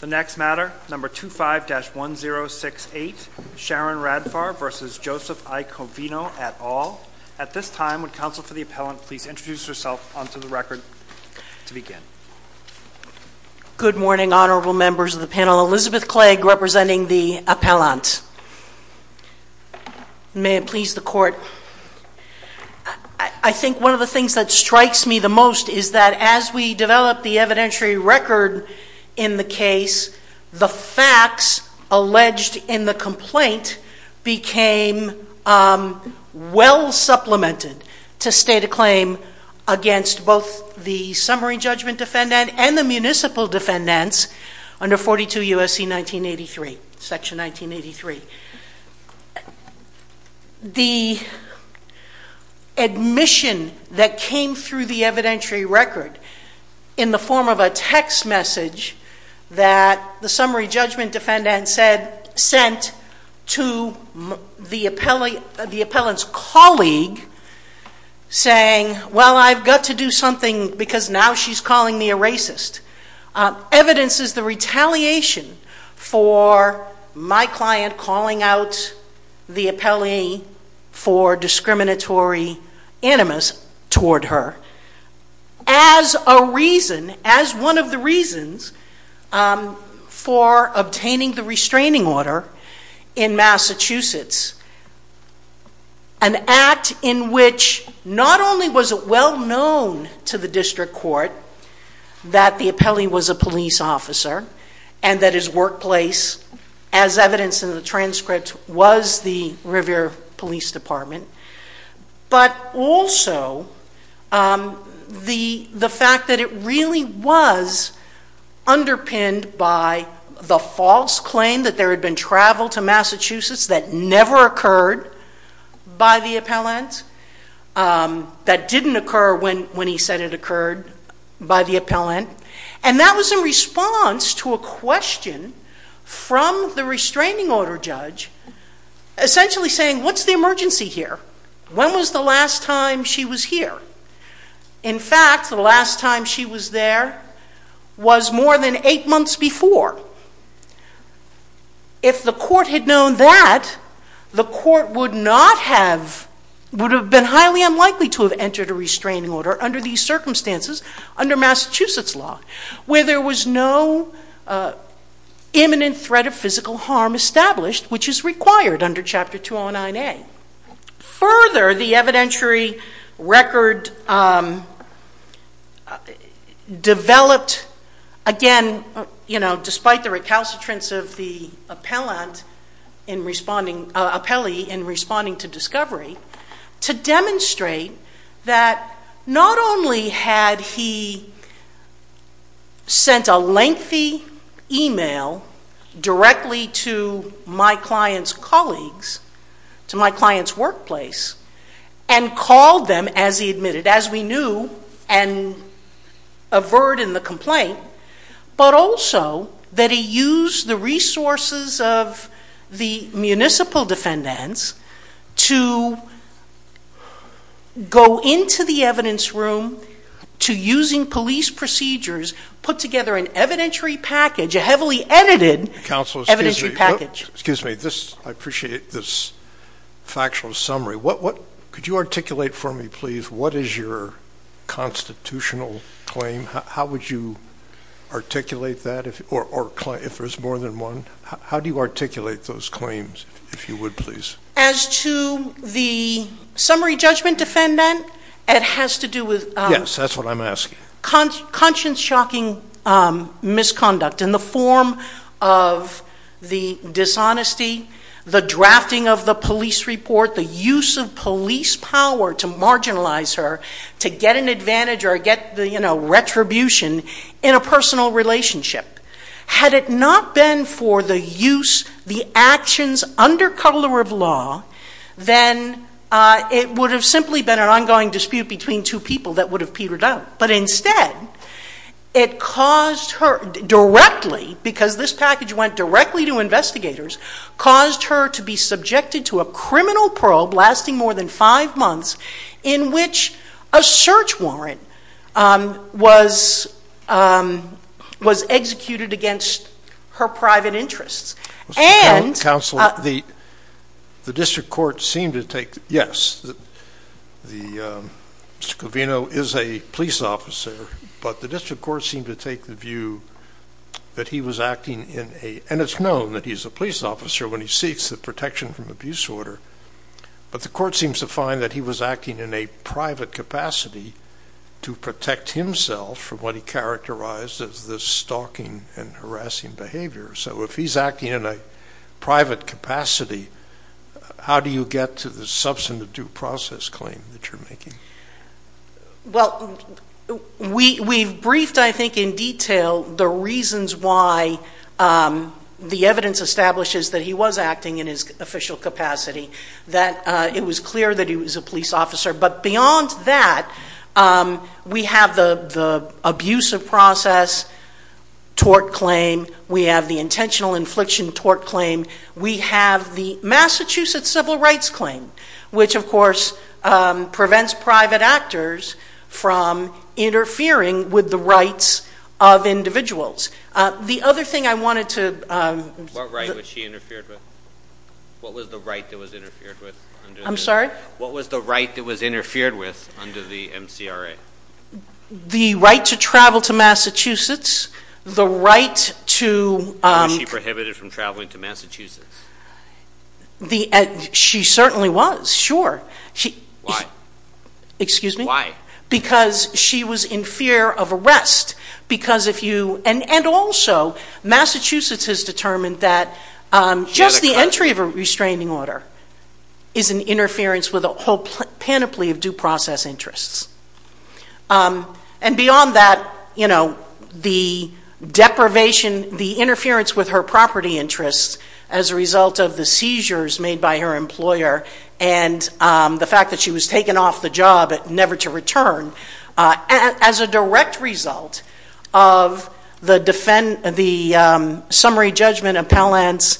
The next matter, number 25-1068, Sharon Radfar v. Joseph I. Covino, et al. At this time, would counsel for the appellant please introduce herself onto the record to begin. Good morning, honorable members of the panel. Elizabeth Clegg, representing the appellant. May it please the court. I think one of the things that strikes me the most is that as we develop the evidentiary record in the case, the facts alleged in the complaint became well supplemented to state a claim against both the summary judgment defendant and the municipal defendants under 42 U.S.C. 1983, section 1983. The admission that came through the evidentiary record in the form of a text message that the summary judgment defendant sent to the appellant's colleague saying, well, I've got to do something because now she's calling me a racist, evidences the retaliation for my client calling out the appellee for discriminatory animus toward her. As a reason, as one of the reasons for obtaining the restraining order in Massachusetts, an act in which not only was it well known to the district court that the appellee was a police officer and that his workplace, as evidenced in the transcript, was the Revere Police Department, but also the fact that it really was underpinned by the false claim that there had been travel to Massachusetts that never occurred by the appellant, that didn't occur when he said it occurred by the appellant. And that was in response to a question from the restraining order judge essentially saying, what's the emergency here? When was the last time she was here? In fact, the last time she was there was more than eight months before. If the court had known that, the court would have been highly unlikely to have entered a restraining order under these circumstances, under Massachusetts law, where there was no imminent threat of physical harm established, which is required under Chapter 209A. Further, the evidentiary record developed, again, despite the recalcitrance of the appellee in responding to discovery, to demonstrate that not only had he sent a lengthy email directly to my client's colleagues to my client's workplace and called them as he admitted, as we knew and averred in the complaint, but also that he used the resources of the municipal defendants to go into the evidence room to using police procedures, put together an evidentiary package, a heavily edited evidentiary package. Thank you, counsel. Excuse me. I appreciate this factual summary. Could you articulate for me, please, what is your constitutional claim? How would you articulate that if there's more than one? How do you articulate those claims, if you would, please? As to the summary judgment defendant, it has to do with conscience-shocking misconduct in the form of the dishonesty, the drafting of the police report, the use of police power to marginalize her to get an advantage or get retribution in a personal relationship. Had it not been for the use, the actions under color of law, then it would have simply been an ongoing dispute between two people that would have petered out. But instead, it caused her directly, because this package went directly to investigators, caused her to be subjected to a criminal probe lasting more than five months in which a search warrant was executed against her private interests. Counsel, the district court seemed to take, yes, Mr. Covino is a police officer, but the district court seemed to take the view that he was acting in a, and it's known that he's a police officer when he seeks the protection from abuse order, but the court seems to find that he was acting in a private capacity to protect himself from what he characterized as the stalking and harassing behavior. So if he's acting in a private capacity, how do you get to the substantive due process claim that you're making? Well, we've briefed, I think, in detail the reasons why the evidence establishes that he was acting in his official capacity, that it was clear that he was a police officer. But beyond that, we have the abusive process tort claim. We have the intentional infliction tort claim. We have the Massachusetts civil rights claim, which, of course, prevents private actors from interfering with the rights of individuals. The other thing I wanted to- What right was she interfered with? What was the right that was interfered with? I'm sorry? What was the right that was interfered with under the MCRA? The right to travel to Massachusetts. The right to- Was she prohibited from traveling to Massachusetts? She certainly was, sure. Why? Excuse me? Why? Because she was in fear of arrest. And also, Massachusetts has determined that just the entry of a restraining order is an interference with a whole panoply of due process interests. And beyond that, the deprivation, the interference with her property interests as a result of the seizures made by her employer and the fact that she was taken off the job, never to return, as a direct result of the summary judgment appellant's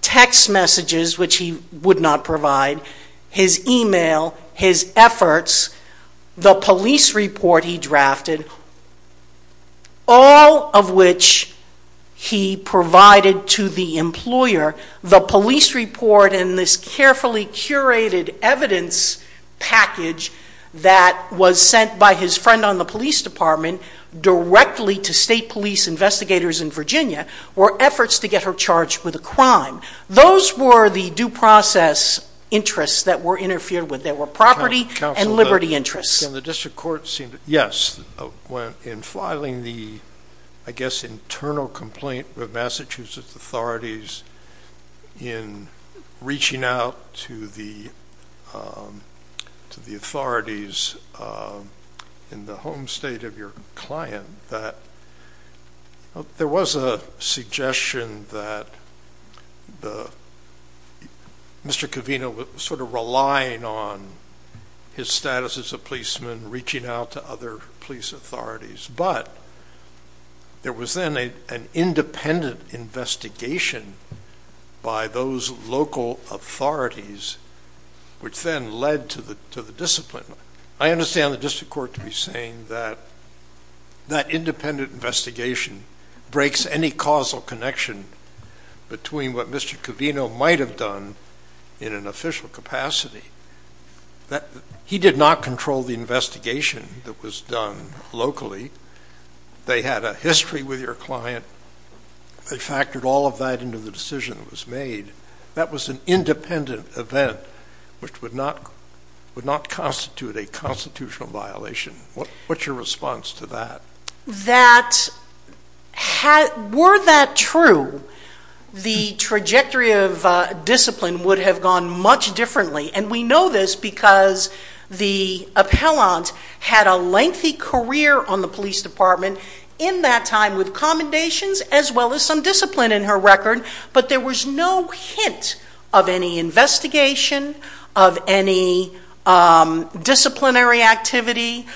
text messages, which he would not provide, his email, his efforts, the police report he drafted, all of which he provided to the employer, the police report and this carefully curated evidence package that was sent by his friend on the police department directly to state police investigators in Virginia were efforts to get her charged with a crime. Those were the due process interests that were interfered with. They were property and liberty interests. Counsel, the district court seemed to- Yes, in filing the, I guess, internal complaint with Massachusetts authorities in reaching out to the authorities in the home state of your client, there was a suggestion that Mr. Covino was sort of relying on his status as a policeman, reaching out to other police authorities. But there was then an independent investigation by those local authorities, which then led to the discipline. I understand the district court to be saying that that independent investigation breaks any causal connection between what Mr. Covino might have done in an official capacity. He did not control the investigation that was done locally. They had a history with your client. They factored all of that into the decision that was made. That was an independent event, which would not constitute a constitutional violation. What's your response to that? Were that true, the trajectory of discipline would have gone much differently, and we know this because the appellant had a lengthy career on the police department in that time with commendations as well as some discipline in her record, but there was no hint of any investigation of any disciplinary activity.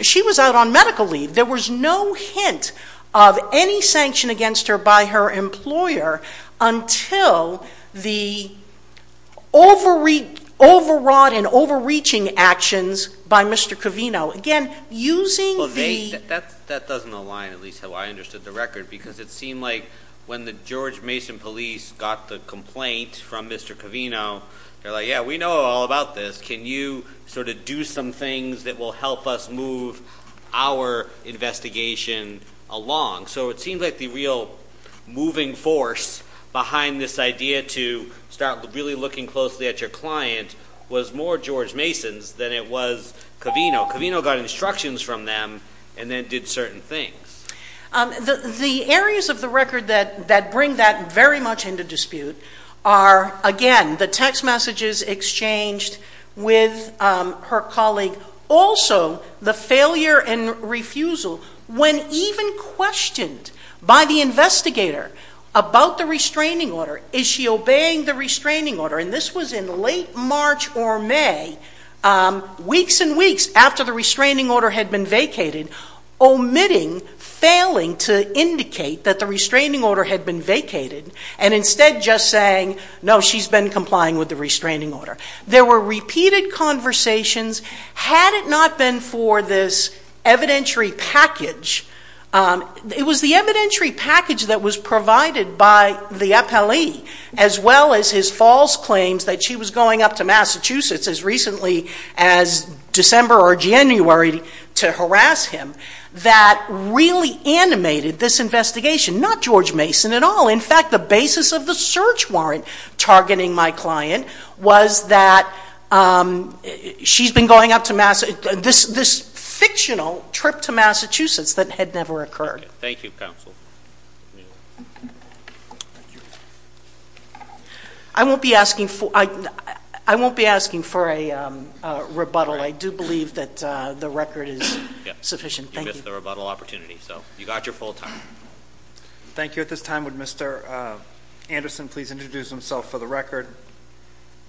She was out on medical leave. There was no hint of any sanction against her by her employer until the overwrought and overreaching actions by Mr. Covino. Again, using the... That doesn't align, at least how I understood the record, because it seemed like when the George Mason police got the complaint from Mr. Covino, they were like, yeah, we know all about this. Can you sort of do some things that will help us move our investigation along? So it seems like the real moving force behind this idea to start really looking closely at your client was more George Mason's than it was Covino. Covino got instructions from them and then did certain things. The areas of the record that bring that very much into dispute are, again, the text messages exchanged with her colleague, also the failure and refusal when even questioned by the investigator about the restraining order. Is she obeying the restraining order? And this was in late March or May, weeks and weeks after the restraining order had been vacated, omitting, failing to indicate that the restraining order had been vacated and instead just saying, no, she's been complying with the restraining order. There were repeated conversations. Had it not been for this evidentiary package, it was the evidentiary package that was provided by the appellee as well as his false claims that she was going up to Massachusetts as recently as December or January to harass him that really animated this investigation. Not George Mason at all. In fact, the basis of the search warrant targeting my client was that she's been going up to Massachusetts, this fictional trip to Massachusetts that had never occurred. Thank you, counsel. I won't be asking for a rebuttal. I do believe that the record is sufficient. Thank you. You missed the rebuttal opportunity, so you got your full time. Thank you. At this time, would Mr. Anderson please introduce himself for the record?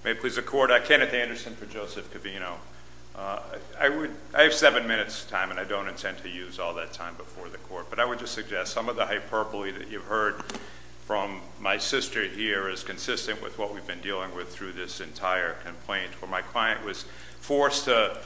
May it please the Court, I'm Kenneth Anderson for Joseph Covino. I have seven minutes' time, and I don't intend to use all that time before the Court, but I would just suggest some of the hyperbole that you've heard from my sister here is consistent with what we've been dealing with through this entire complaint where my client was forced to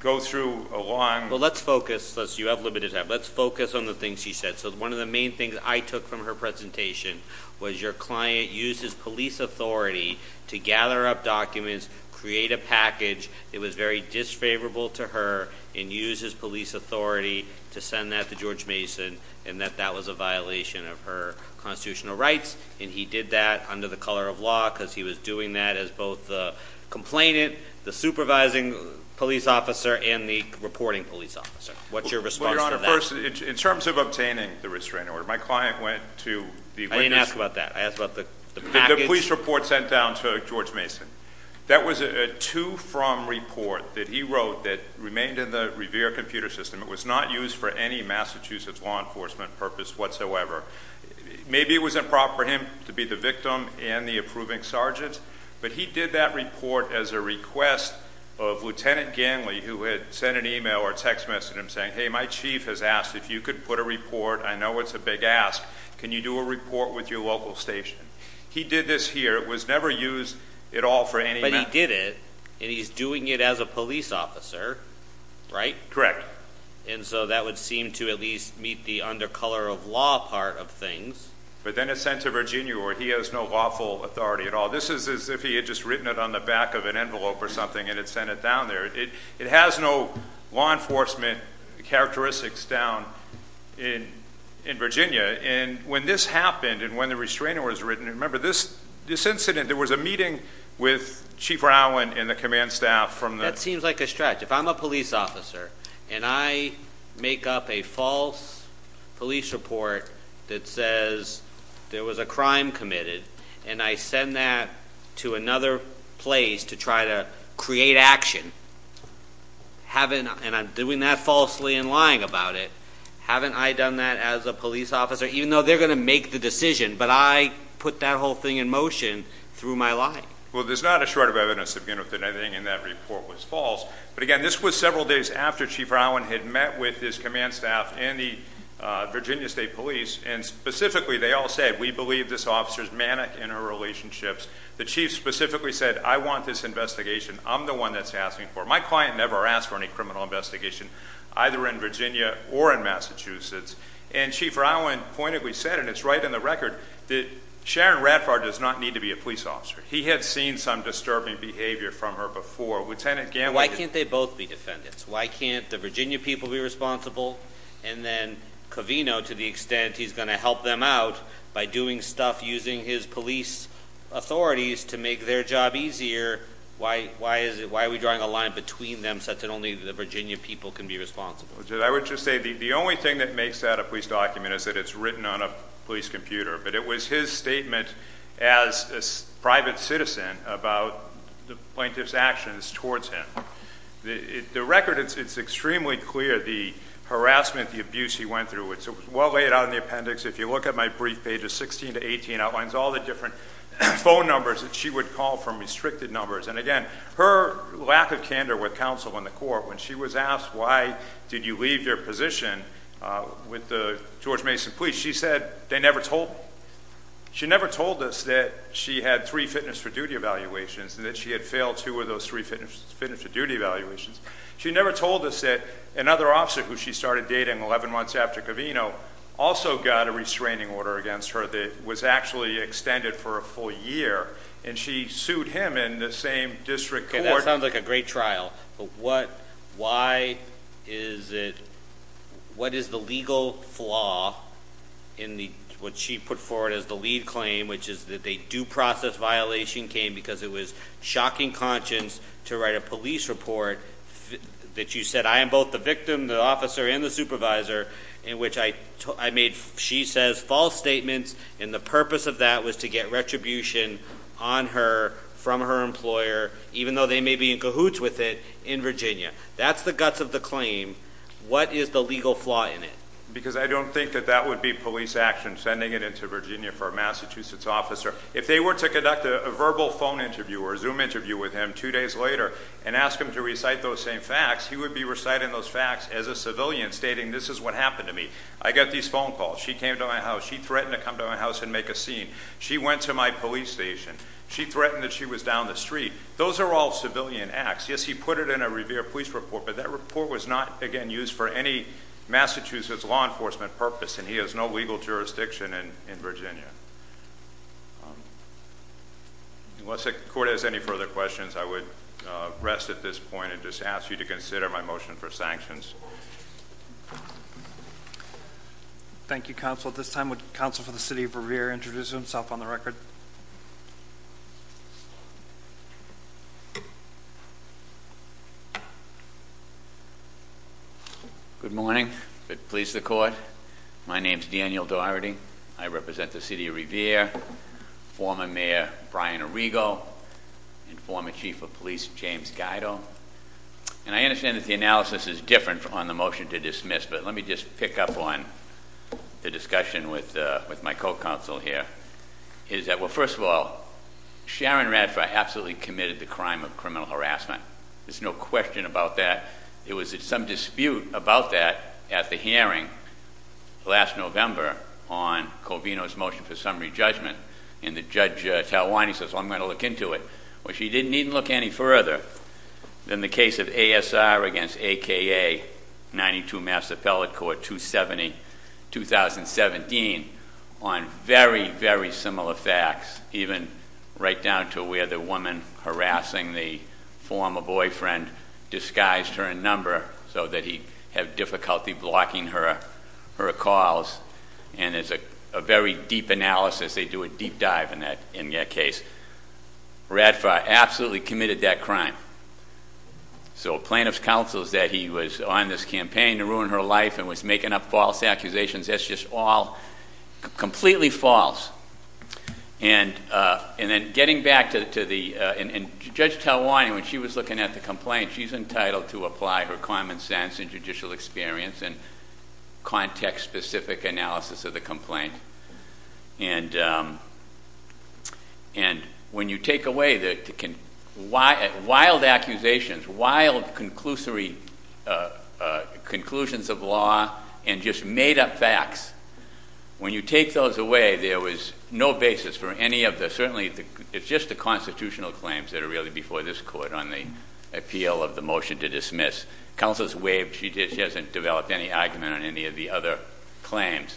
go through a long Well, let's focus. You have limited time. Let's focus on the things she said. So one of the main things I took from her presentation was your client used his police authority to gather up documents, create a package that was very disfavorable to her, and used his police authority to send that to George Mason and that that was a violation of her constitutional rights, and he did that under the color of law because he was doing that as both the complainant, the supervising police officer, and the reporting police officer. What's your response to that? Well, Your Honor, first, in terms of obtaining the restraining order, my client went to the witness I didn't ask about that. I asked about the package. The police report sent down to George Mason. That was a to-from report that he wrote that remained in the Revere computer system. It was not used for any Massachusetts law enforcement purpose whatsoever. Maybe it was improper for him to be the victim and the approving sergeant, but he did that report as a request of Lieutenant Gangley who had sent an email or text message to him saying, hey, my chief has asked if you could put a report. I know it's a big ask. Can you do a report with your local station? He did this here. It was never used at all for any matter. But he did it, and he's doing it as a police officer, right? And so that would seem to at least meet the under color of law part of things. But then it's sent to Virginia where he has no lawful authority at all. This is as if he had just written it on the back of an envelope or something and had sent it down there. It has no law enforcement characteristics down in Virginia. And when this happened and when the restraining order was written, remember this incident, there was a meeting with Chief Rowan and the command staff from the- That seems like a stretch. If I'm a police officer and I make up a false police report that says there was a crime committed and I send that to another place to try to create action, and I'm doing that falsely and lying about it, haven't I done that as a police officer? Even though they're going to make the decision, but I put that whole thing in motion through my lying. Well, there's not a shred of evidence to begin with, and I think that report was false. But, again, this was several days after Chief Rowan had met with his command staff and the Virginia State Police, and specifically they all said, we believe this officer's manic in her relationships. The chief specifically said, I want this investigation. I'm the one that's asking for it. My client never asked for any criminal investigation, either in Virginia or in Massachusetts. And Chief Rowan pointedly said, and it's right in the record, that Sharon Radford does not need to be a police officer. He had seen some disturbing behavior from her before. Lieutenant Gannon- Why can't they both be defendants? Why can't the Virginia people be responsible? And then Covino, to the extent he's going to help them out by doing stuff using his police authorities to make their job easier, why are we drawing a line between them such that only the Virginia people can be responsible? I would just say the only thing that makes that a police document is that it's written on a police computer. But it was his statement as a private citizen about the plaintiff's actions towards him. The record, it's extremely clear, the harassment, the abuse he went through. It's well laid out in the appendix. If you look at my brief page, it's 16 to 18. It outlines all the different phone numbers that she would call from restricted numbers. And again, her lack of candor with counsel in the court, when she was asked why did you leave your position with the George Mason police, she said they never told me. She never told us that she had three fitness for duty evaluations and that she had failed two of those three fitness for duty evaluations. She never told us that another officer who she started dating 11 months after Covino also got a restraining order against her that was actually extended for a full year. And she sued him in the same district court- What she put forward as the lead claim, which is that they do process violation, came because it was shocking conscience to write a police report that you said, I am both the victim, the officer, and the supervisor, in which I made, she says, false statements. And the purpose of that was to get retribution on her from her employer, even though they may be in cahoots with it, in Virginia. That's the guts of the claim. What is the legal flaw in it? Because I don't think that that would be police action, sending it into Virginia for a Massachusetts officer. If they were to conduct a verbal phone interview or a Zoom interview with him two days later and ask him to recite those same facts, he would be reciting those facts as a civilian, stating this is what happened to me. I got these phone calls. She came to my house. She threatened to come to my house and make a scene. She went to my police station. She threatened that she was down the street. Those are all civilian acts. Yes, he put it in a Revere police report, but that report was not, again, used for any Massachusetts law enforcement purpose, and he has no legal jurisdiction in Virginia. Unless the court has any further questions, I would rest at this point and just ask you to consider my motion for sanctions. Thank you, counsel. At this time, would counsel for the city of Revere introduce himself on the record? Good morning. If it pleases the court, my name is Daniel Dougherty. I represent the city of Revere, former mayor Brian Arrigo, and former chief of police James Guido. I understand that the analysis is different on the motion to dismiss, but let me just pick up on the discussion with my co-counsel here. First of all, Sharon Radford absolutely committed the crime of criminal harassment. There's no question about that. There was some dispute about that at the hearing last November on Colvino's motion for summary judgment, and the judge, Talwani, says, well, I'm going to look into it. Well, she didn't even look any further than the case of ASR against AKA, 92 Massapella Court, 2017, on very, very similar facts, even right down to where the woman harassing the former boyfriend disguised her in number so that he'd have difficulty blocking her calls, and there's a very deep analysis. They do a deep dive in that case. Radford absolutely committed that crime. So plaintiff's counsel is that he was on this campaign to ruin her life and was making up false accusations. That's just all completely false. And then getting back to the – and Judge Talwani, when she was looking at the complaint, she's entitled to apply her common sense and judicial experience and context-specific analysis of the complaint. And when you take away the wild accusations, wild conclusions of law, and just made-up facts, when you take those away, there was no basis for any of the – of the motion to dismiss. Counsel's waived. She hasn't developed any argument on any of the other claims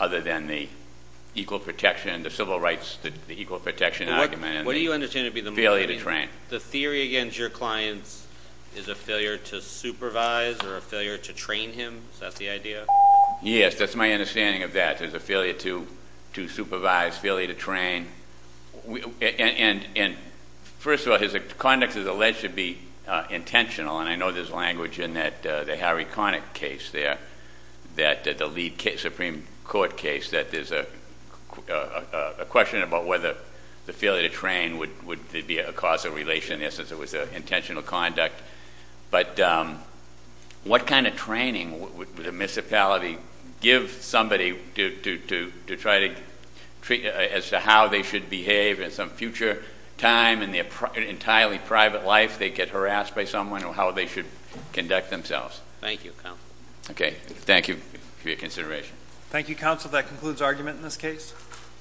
other than the equal protection, the civil rights, the equal protection argument. What do you understand to be the motive? Failure to train. The theory against your clients is a failure to supervise or a failure to train him? Is that the idea? Yes, that's my understanding of that. There's a failure to supervise, failure to train. And first of all, his conduct is alleged to be intentional, and I know there's language in the Harry Connick case there, the lead Supreme Court case, that there's a question about whether the failure to train would be a causal relation. In essence, it was intentional conduct. But what kind of training would a municipality give somebody to try to treat – as to how they should behave in some future time in their entirely private life, they get harassed by someone, or how they should conduct themselves? Thank you, Counsel. Okay. Thank you for your consideration. Thank you, Counsel. That concludes argument in this case.